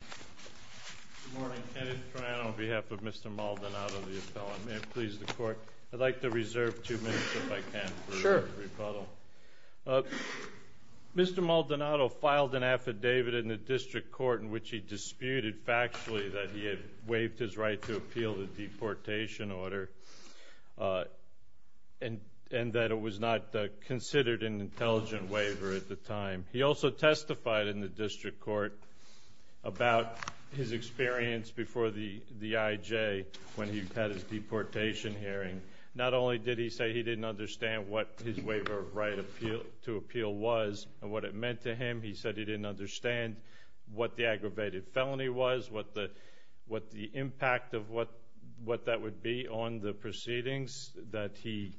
Good morning. Kenneth Tran on behalf of Mr. Maldonado, the appellant. May it please the Court. I'd like to reserve two minutes if I can. Sure. Mr. Maldonado filed an affidavit in the district court in which he disputed factually that he had waived his right to appeal the deportation order and that it was not considered an intelligent waiver at the time. He also testified in the district court about his experience before the IJ when he had his deportation hearing. Not only did he say he didn't understand what his waiver of right to appeal was and what it meant to him, he said he didn't understand what the aggravated felony was, what the impact of what that would be on the proceedings, that he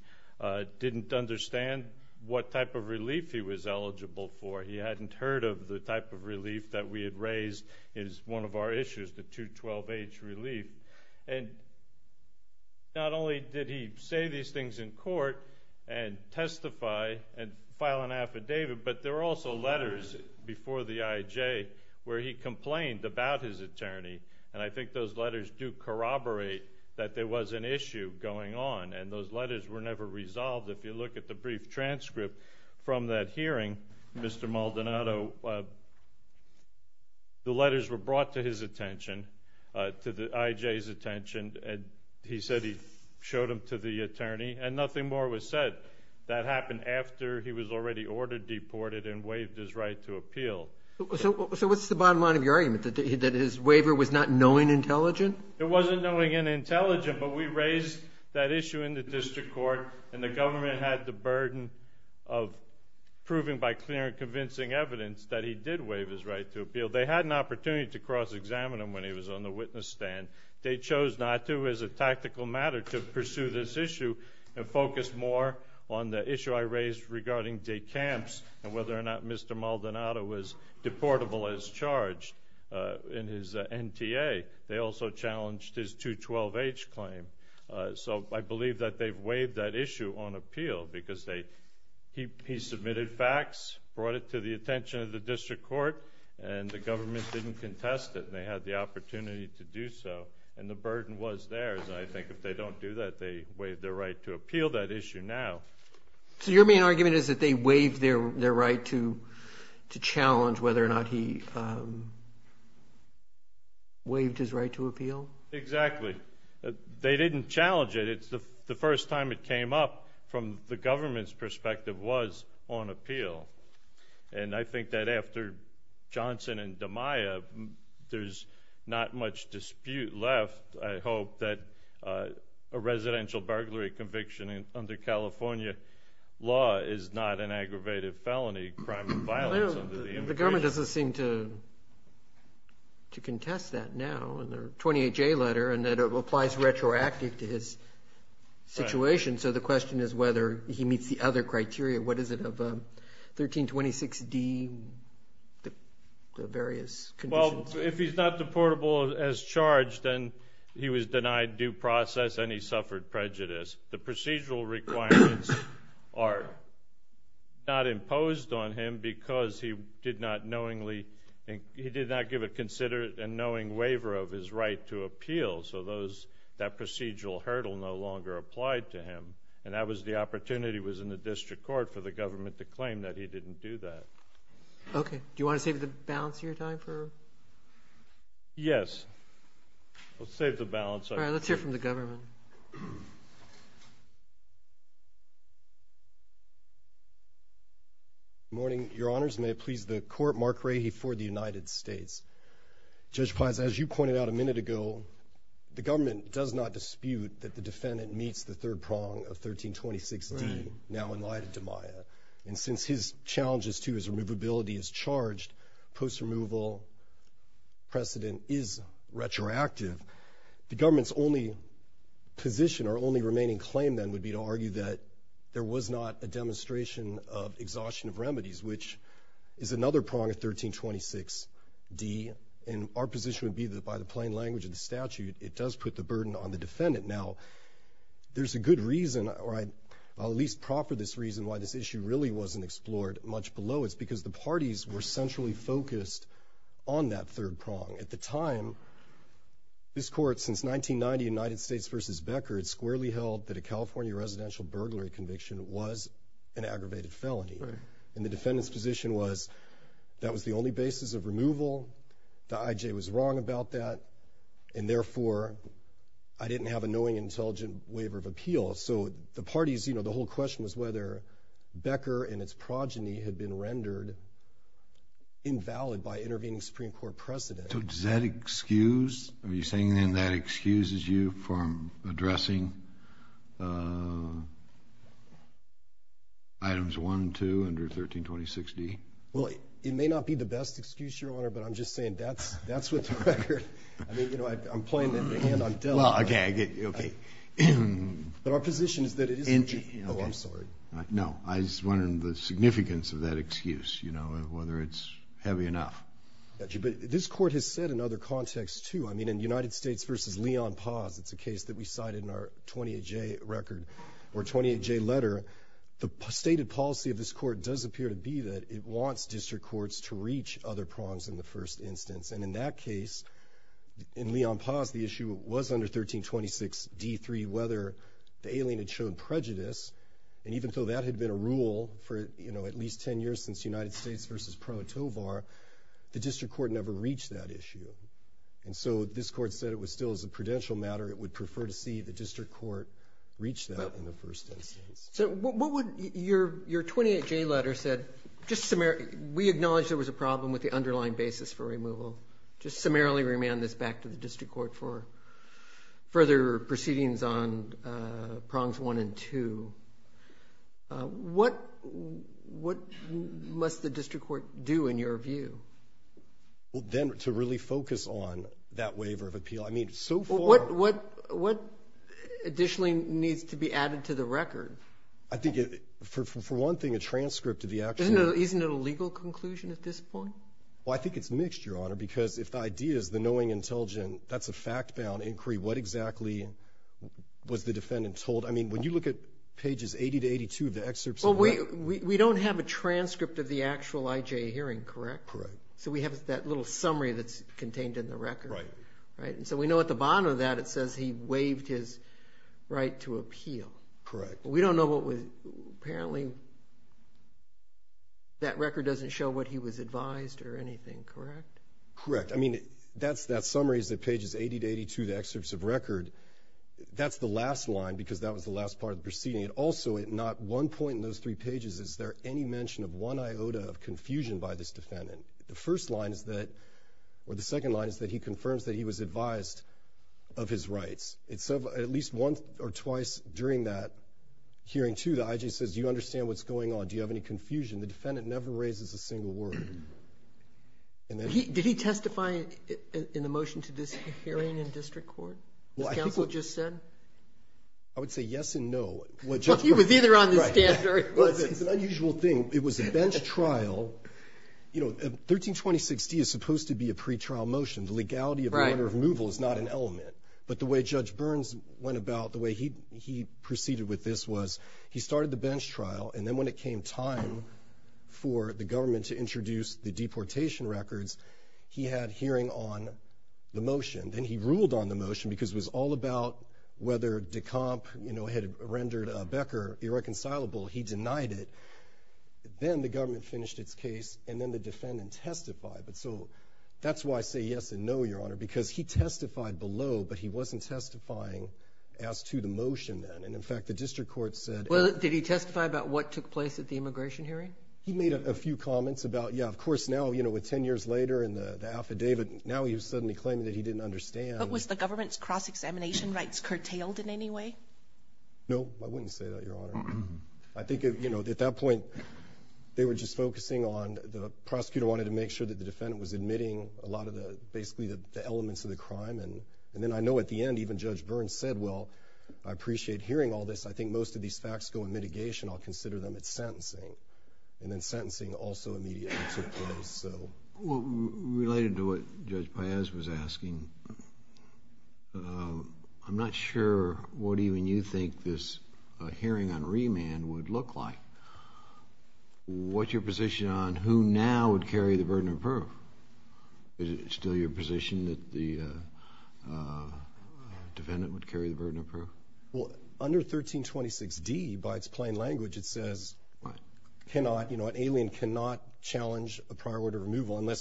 didn't understand what type of relief he was eligible for. He hadn't heard of the type of relief that we had raised as one of our issues, the 212H relief. And not only did he say these things in court and testify and file an affidavit, but there were also letters before the IJ where he complained about his attorney. And I think those letters do corroborate that there was an issue going on. And those letters were never resolved. If you look at the brief transcript from that hearing, Mr. Maldonado, the letters were brought to his attention, to the IJ's attention, and he said he showed them to the attorney and nothing more was said. That happened after he was already ordered deported and waived his right to appeal. So what's the bottom line of your argument, that his waiver was not knowing intelligent? It wasn't knowing intelligent, but we raised that issue in the district court and the government had the burden of proving by clear and convincing evidence that he did waive his right to appeal. They had an opportunity to cross-examine him when he was on the witness stand. They chose not to as a tactical matter to pursue this issue and focus more on the issue I raised regarding de camps and whether or not Mr. Maldonado was reportable as charged in his NTA. They also challenged his 212H claim. So I believe that they've waived that issue on appeal because he submitted facts, brought it to the attention of the district court, and the government didn't contest it. They had the opportunity to do so, and the burden was theirs. I think if they don't do that, they waive their right to appeal that issue now. So your main argument is that they waived their right to challenge whether or not he waived his right to appeal? Exactly. They didn't challenge it. It's the first time it came up from the government's perspective was on appeal. And I think that after Johnson and DeMaia, there's not much dispute left. I hope that a residential burglary conviction under California law is not an aggravated felony crime of violence under the immigration law. The government doesn't seem to contest that now in their 28-J letter and that it applies retroactively to his situation. So the question is whether he meets the other criteria. What is it of 1326D, the various conditions? Well, if he's not deportable as charged, then he was denied due process and he suffered prejudice. The procedural requirements are not imposed on him because he did not knowingly – he did not give a considerate and knowing waiver of his right to appeal. And that was the opportunity was in the district court for the government to claim that he didn't do that. Okay. Do you want to save the balance of your time for – Yes. Let's save the balance. All right. Let's hear from the government. Good morning, Your Honors. May it please the Court, Mark Rahe for the United States. Judge Paz, as you pointed out a minute ago, the government does not dispute that the defendant meets the third prong of 1326D, now in light of DiMaia. And since his challenges to his removability is charged, post-removal precedent is retroactive. The government's only position or only remaining claim then would be to argue that there was not a demonstration of exhaustion of remedies, which is another prong of 1326D. And our position would be that by the plain language of the statute, it does put the burden on the defendant. Now, there's a good reason – or I'll at least proffer this reason why this issue really wasn't explored much below. It's because the parties were centrally focused on that third prong. At the time, this Court, since 1990, United States v. Becker, it squarely held that a California residential burglary conviction was an aggravated felony. And the defendant's position was that was the only basis of removal, the I.J. was wrong about that, and therefore I didn't have a knowing, intelligent waiver of appeal. So the parties, you know, the whole question was whether Becker and its progeny had been rendered invalid by intervening Supreme Court precedent. So does that excuse – are you saying then that excuses you from addressing Items 1 and 2 under 1326D? Well, it may not be the best excuse, Your Honor, but I'm just saying that's what the record – I mean, you know, I'm playing it in the hand. Well, okay, okay. But our position is that it is – oh, I'm sorry. No, I was wondering the significance of that excuse, you know, whether it's heavy enough. This Court has said in other contexts, too. I mean, in United States v. Leon Paz, it's a case that we cited in our 28J record or 28J letter, the stated policy of this Court does appear to be that it wants district courts to reach other prongs in the first instance. And in that case, in Leon Paz, the issue was under 1326D3 whether the alien had shown prejudice. And even though that had been a rule for, you know, at least 10 years since United States v. Pro Tovar, the district court never reached that issue. And so this Court said it was still, as a prudential matter, it would prefer to see the district court reach that in the first instance. So what would – your 28J letter said – just – we acknowledge there was a problem with the underlying basis for removal. Just summarily remand this back to the district court for further proceedings on prongs one and two. What must the district court do in your view? Well, then to really focus on that waiver of appeal. I mean, so far – What additionally needs to be added to the record? I think for one thing, a transcript of the action – Isn't it a legal conclusion at this point? Well, I think it's mixed, Your Honor, because if the idea is the knowing intelligent, that's a fact-bound inquiry. What exactly was the defendant told? I mean, when you look at pages 80 to 82 of the excerpts – Well, we don't have a transcript of the actual IJ hearing, correct? Correct. So we have that little summary that's contained in the record. Right. Right. And so we know at the bottom of that it says he waived his right to appeal. Correct. We don't know what was – apparently that record doesn't show what he was advised or anything, correct? Correct. I mean, that summary is at pages 80 to 82, the excerpts of record. That's the last line because that was the last part of the proceeding. Also, at not one point in those three pages is there any mention of one iota of confusion by this defendant. The first line is that – or the second line is that he confirms that he was advised of his rights. At least once or twice during that hearing, too, the IJ says, do you understand what's going on? Do you have any confusion? The defendant never raises a single word. Did he testify in the motion to this hearing in district court, as counsel just said? I would say yes and no. Well, he was either on the stand or he wasn't. It's an unusual thing. It was a bench trial. You know, 1326D is supposed to be a pretrial motion. The legality of the order of removal is not an element. But the way Judge Burns went about – the way he proceeded with this was he started the bench trial, and then when it came time for the government to introduce the deportation records, he had hearing on the motion. Then he ruled on the motion because it was all about whether DeComp had rendered Becker irreconcilable. He denied it. Then the government finished its case, and then the defendant testified. But so that's why I say yes and no, Your Honor, because he testified below, but he wasn't testifying as to the motion then. And, in fact, the district court said – Well, did he testify about what took place at the immigration hearing? He made a few comments about, yeah, of course now, you know, with 10 years later and the affidavit, now he was suddenly claiming that he didn't understand. But was the government's cross-examination rights curtailed in any way? No, I wouldn't say that, Your Honor. I think, you know, at that point they were just focusing on – the prosecutor wanted to make sure that the defendant was admitting a lot of the – basically the elements of the crime. And then I know at the end even Judge Burns said, well, I appreciate hearing all this. I think most of these facts go in mitigation. I'll consider them at sentencing. And then sentencing also immediately took place. Related to what Judge Paez was asking, I'm not sure what even you think this hearing on remand would look like. What's your position on who now would carry the burden of proof? Is it still your position that the defendant would carry the burden of proof? Well, under 1326d, by its plain language, it says cannot – unless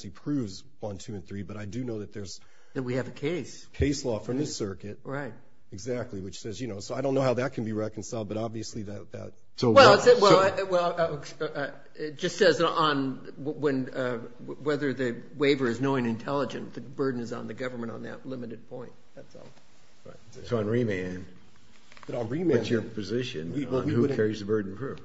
he proves 1, 2, and 3. But I do know that there's – That we have a case. Case law from this circuit. Right. Exactly, which says – so I don't know how that can be reconciled, but obviously that – Well, it just says on whether the waiver is knowing and intelligent. The burden is on the government on that limited point. So on remand, what's your position on who carries the burden of proof?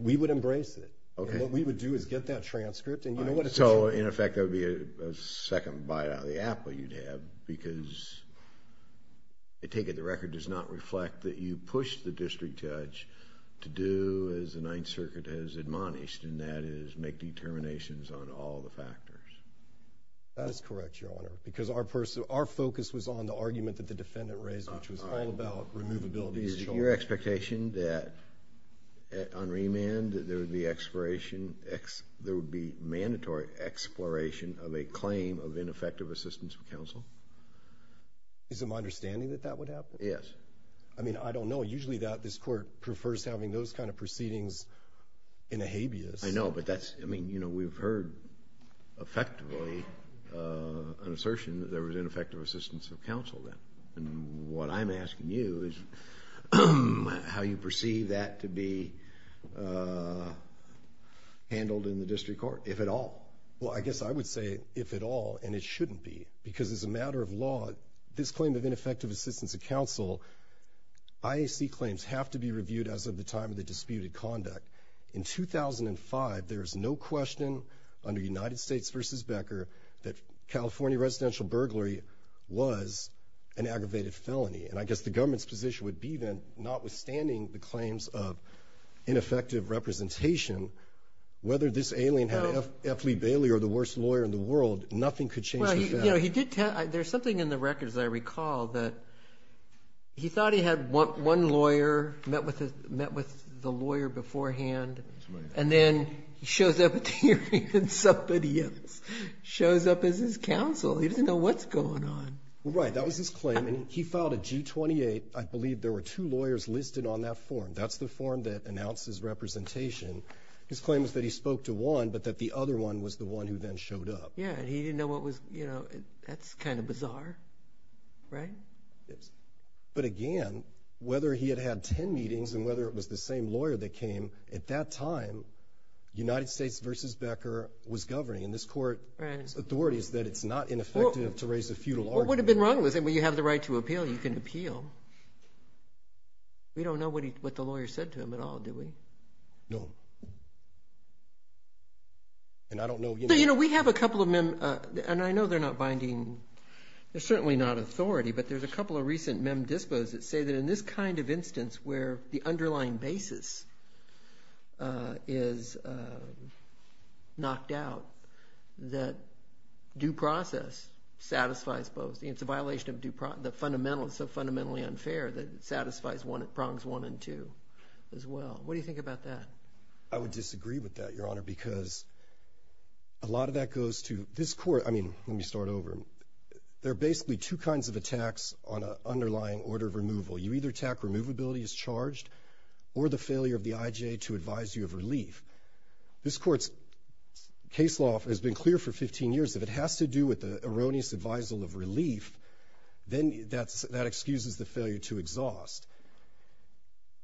We would embrace it. And what we would do is get that transcript. So, in effect, there would be a second bite out of the apple you'd have because I take it the record does not reflect that you pushed the district judge to do as the Ninth Circuit has admonished, and that is make determinations on all the factors. That is correct, Your Honor, because our focus was on the argument that the defendant raised, which was all about removability. Is it your expectation that on remand there would be mandatory exploration of a claim of ineffective assistance of counsel? Is it my understanding that that would happen? Yes. I mean, I don't know. Usually this court prefers having those kind of proceedings in a habeas. I know, but that's – I mean, you know, we've heard effectively an assertion that there was ineffective assistance of counsel then. And what I'm asking you is how you perceive that to be handled in the district court, if at all. Well, I guess I would say if at all, and it shouldn't be, because as a matter of law, this claim of ineffective assistance of counsel, IAC claims have to be reviewed as of the time of the disputed conduct. In 2005, there was no question under United States v. Becker that California residential burglary was an aggravated felony. And I guess the government's position would be then, notwithstanding the claims of ineffective representation, whether this alien had F. Lee Bailey or the worst lawyer in the world, nothing could change the fact. Well, you know, he did – there's something in the record, as I recall, that he thought he had one lawyer, met with the lawyer beforehand, and then he shows up at the hearing and somebody else shows up as his counsel. He doesn't know what's going on. Right. That was his claim. And he filed a G-28. I believe there were two lawyers listed on that form. That's the form that announces representation. His claim is that he spoke to one, but that the other one was the one who then showed up. Yeah, and he didn't know what was – you know, that's kind of bizarre, right? Yes. But again, whether he had had ten meetings and whether it was the same lawyer that came at that time, United States v. Becker was governing. And this Court's authority is that it's not ineffective to raise a feudal argument. What would have been wrong with it? Well, you have the right to appeal. You can appeal. We don't know what the lawyer said to him at all, do we? No. And I don't know, you know. You know, we have a couple of – and I know they're not binding – they're certainly not authority, but there's a couple of recent mem dispos that say that in this kind of instance where the underlying basis is knocked out, that due process satisfies both. I mean, it's a violation of due process. It's so fundamentally unfair that it satisfies prongs one and two as well. What do you think about that? I would disagree with that, Your Honor, because a lot of that goes to – this Court – I mean, let me start over. You either attack removability as charged or the failure of the IJA to advise you of relief. This Court's case law has been clear for 15 years. If it has to do with the erroneous advisal of relief, then that excuses the failure to exhaust.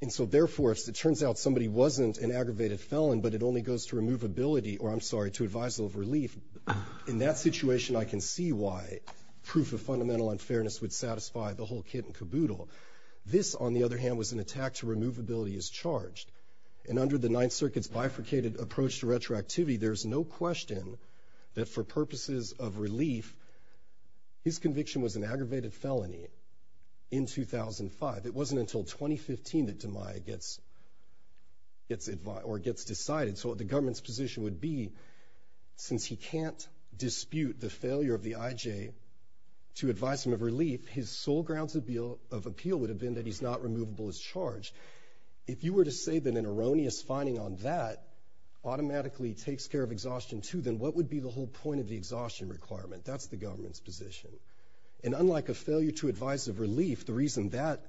And so, therefore, if it turns out somebody wasn't an aggravated felon but it only goes to removability – or, I'm sorry, to advisal of relief, in that situation, I can see why proof of fundamental unfairness would satisfy the whole kit and caboodle. This, on the other hand, was an attack to removability as charged. And under the Ninth Circuit's bifurcated approach to retroactivity, there's no question that for purposes of relief, his conviction was an aggravated felony in 2005. It wasn't until 2015 that Demeyer gets decided. So the government's position would be, since he can't dispute the failure of the IJA to advise him of relief, his sole grounds of appeal would have been that he's not removable as charged. If you were to say that an erroneous finding on that automatically takes care of exhaustion too, then what would be the whole point of the exhaustion requirement? That's the government's position. And unlike a failure to advise of relief, the reason that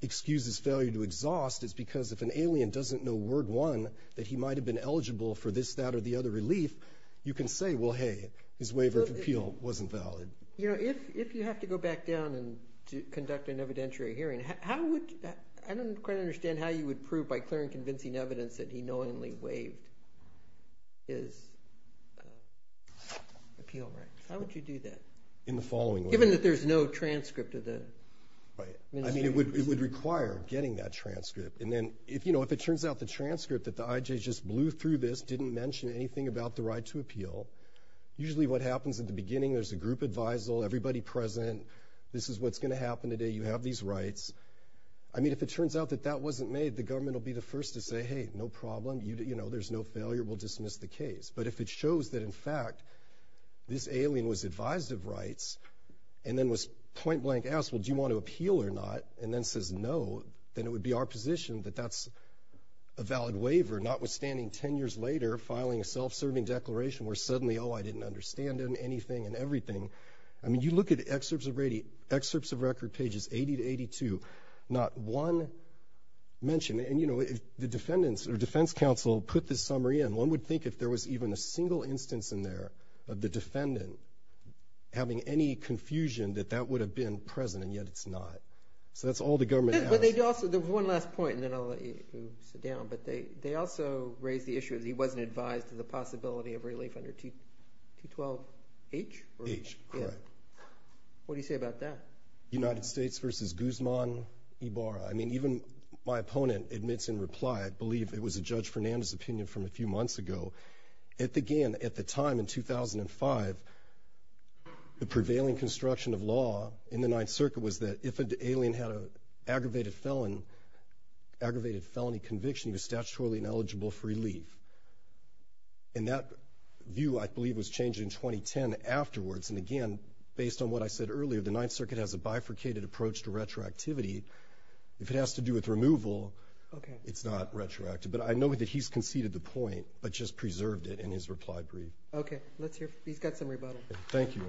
excuses failure to exhaust is because if an alien doesn't know, word one, that he might have been eligible for this, that, or the other relief, you can say, well, hey, his waiver of appeal wasn't valid. You know, if you have to go back down and conduct an evidentiary hearing, I don't quite understand how you would prove by clear and convincing evidence that he knowingly waived his appeal rights. How would you do that? In the following way. Given that there's no transcript of the… I mean, it would require getting that transcript. And then, you know, if it turns out the transcript that the IJA just blew through this didn't mention anything about the right to appeal, usually what happens at the beginning, there's a group advisal, everybody present, this is what's going to happen today, you have these rights. I mean, if it turns out that that wasn't made, the government will be the first to say, hey, no problem, you know, there's no failure, we'll dismiss the case. But if it shows that, in fact, this alien was advised of rights and then was point blank asked, well, do you want to appeal or not, and then says no, then it would be our position that that's a valid waiver, notwithstanding 10 years later filing a self-serving declaration where suddenly, oh, I didn't understand anything and everything. I mean, you look at excerpts of record pages 80 to 82, not one mention. And, you know, if the defendants or defense counsel put this summary in, one would think if there was even a single instance in there of the defendant having any confusion that that would have been present, and yet it's not. So that's all the government has. There was one last point, and then I'll let you sit down. But they also raised the issue that he wasn't advised of the possibility of relief under 212H? H, correct. What do you say about that? United States v. Guzman Ibarra. I mean, even my opponent admits in reply, I believe it was a Judge Fernandez opinion from a few months ago, that, again, at the time in 2005, the prevailing construction of law in the Ninth Circuit was that if an alien had an aggravated felony conviction, he was statutorily ineligible for relief. And that view, I believe, was changed in 2010 afterwards. And, again, based on what I said earlier, the Ninth Circuit has a bifurcated approach to retroactivity. If it has to do with removal, it's not retroactive. But I know that he's conceded the point, but just preserved it in his reply brief. Okay. He's got some rebuttal. Thank you.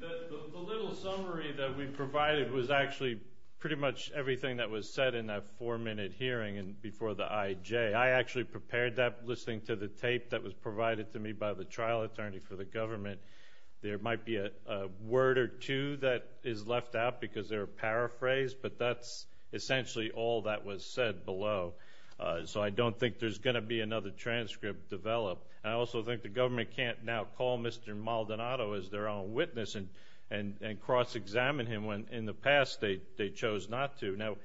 The little summary that we provided was actually pretty much everything that was said in that four-minute hearing before the IJ. I actually prepared that listening to the tape that was provided to me by the trial attorney for the government. There might be a word or two that is left out because they're paraphrased, but that's essentially all that was said below. So I don't think there's going to be another transcript developed. I also think the government can't now call Mr. Maldonado as their own witness and cross-examine him when in the past they chose not to. Now,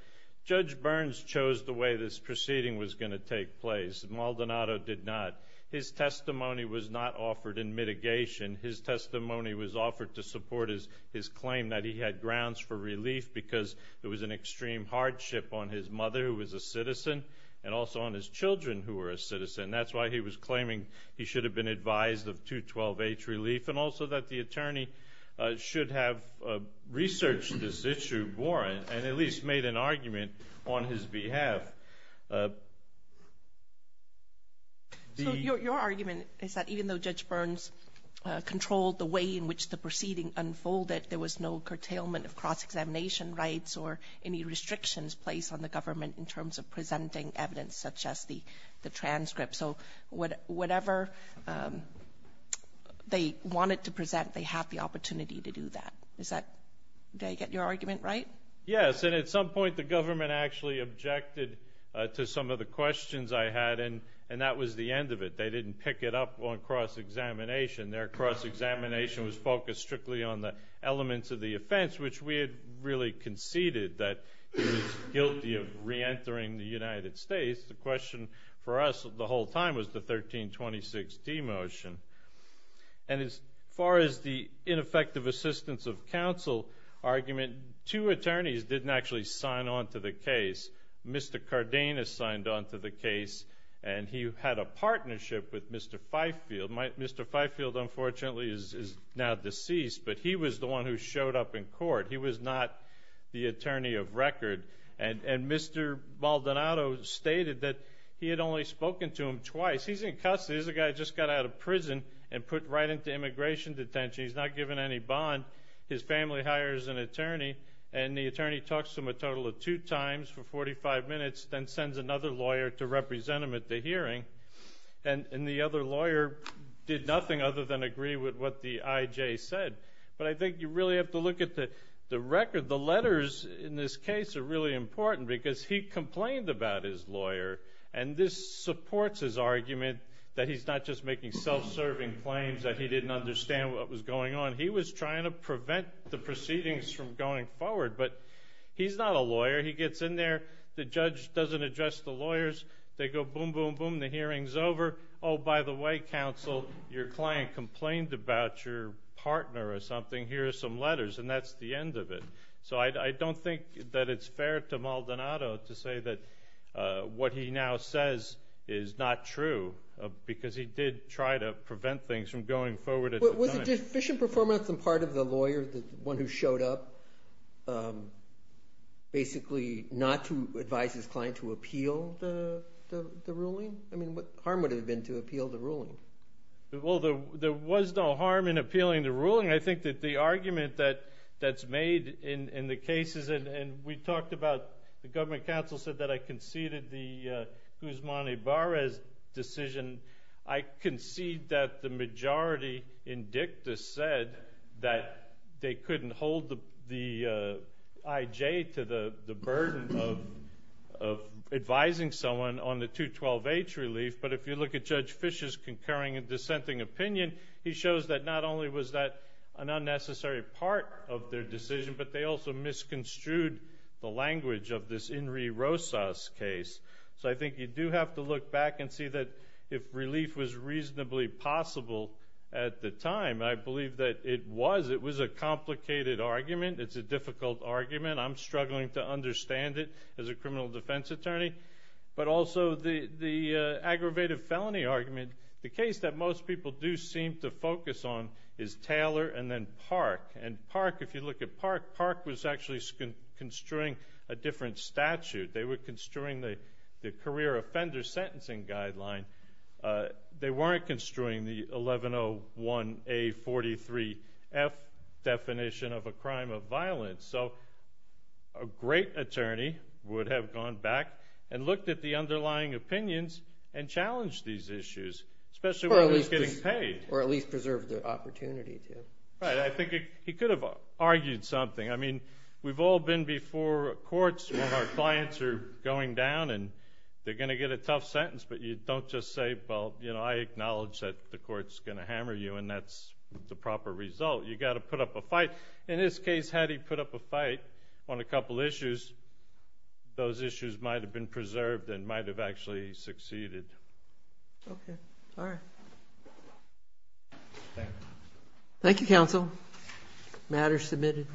Judge Burns chose the way this proceeding was going to take place. Maldonado did not. His testimony was not offered in mitigation. His testimony was offered to support his claim that he had grounds for relief because there was an extreme hardship on his mother, who was a citizen, and also on his children, who were a citizen. That's why he was claiming he should have been advised of 212H relief and also that the attorney should have researched this issue more and at least made an argument on his behalf. So your argument is that even though Judge Burns controlled the way in which the proceeding unfolded, there was no curtailment of cross-examination rights or any restrictions placed on the government in terms of presenting evidence such as the transcript. So whatever they wanted to present, they had the opportunity to do that. Did I get your argument right? Yes, and at some point the government actually objected to some of the questions I had, and that was the end of it. They didn't pick it up on cross-examination. Their cross-examination was focused strictly on the elements of the offense, which we had really conceded that he was guilty of reentering the United States. The question for us the whole time was the 1326D motion. And as far as the ineffective assistance of counsel argument, two attorneys didn't actually sign on to the case. Mr. Cardenas signed on to the case, and he had a partnership with Mr. Fifield. Mr. Fifield, unfortunately, is now deceased, but he was the one who showed up in court. He was not the attorney of record. And Mr. Maldonado stated that he had only spoken to him twice. He's in custody. He's a guy who just got out of prison and put right into immigration detention. He's not given any bond. His family hires an attorney, and the attorney talks to him a total of two times for 45 minutes, then sends another lawyer to represent him at the hearing. And the other lawyer did nothing other than agree with what the I.J. said. But I think you really have to look at the record. The letters in this case are really important because he complained about his lawyer, and this supports his argument that he's not just making self-serving claims, that he didn't understand what was going on. He was trying to prevent the proceedings from going forward, but he's not a lawyer. He gets in there. The judge doesn't address the lawyers. They go boom, boom, boom. The hearing's over. Oh, by the way, counsel, your client complained about your partner or something. Here are some letters, and that's the end of it. So I don't think that it's fair to Maldonado to say that what he now says is not true because he did try to prevent things from going forward at the time. Was the deficient performance on part of the lawyer, the one who showed up, basically not to advise his client to appeal the ruling? I mean, what harm would it have been to appeal the ruling? Well, there was no harm in appealing the ruling. I think that the argument that's made in the cases, and we talked about the government counsel said that I conceded the Guzman-Ibarra decision. I concede that the majority in dicta said that they couldn't hold the IJ to the burden of advising someone on the 212H relief, but if you look at Judge Fischer's concurring and dissenting opinion, he shows that not only was that an unnecessary part of their decision, but they also misconstrued the language of this Inri Rosas case. So I think you do have to look back and see that if relief was reasonably possible at the time, I believe that it was. It was a complicated argument. It's a difficult argument. I'm struggling to understand it as a criminal defense attorney. But also the aggravated felony argument, the case that most people do seem to focus on is Taylor and then Park. And Park, if you look at Park, Park was actually construing a different statute. They were construing the career offender sentencing guideline. They weren't construing the 1101A43F definition of a crime of violence. So a great attorney would have gone back and looked at the underlying opinions and challenged these issues, especially when it was getting paid. Or at least preserved the opportunity to. Right. I think he could have argued something. I mean, we've all been before courts when our clients are going down and they're going to get a tough sentence, but you don't just say, well, you know, I acknowledge that the court's going to hammer you and that's the proper result. You've got to put up a fight. In this case, had he put up a fight on a couple issues, those issues might have been preserved and might have actually succeeded. Okay. All right. Thank you. Thank you, counsel. Matter submitted.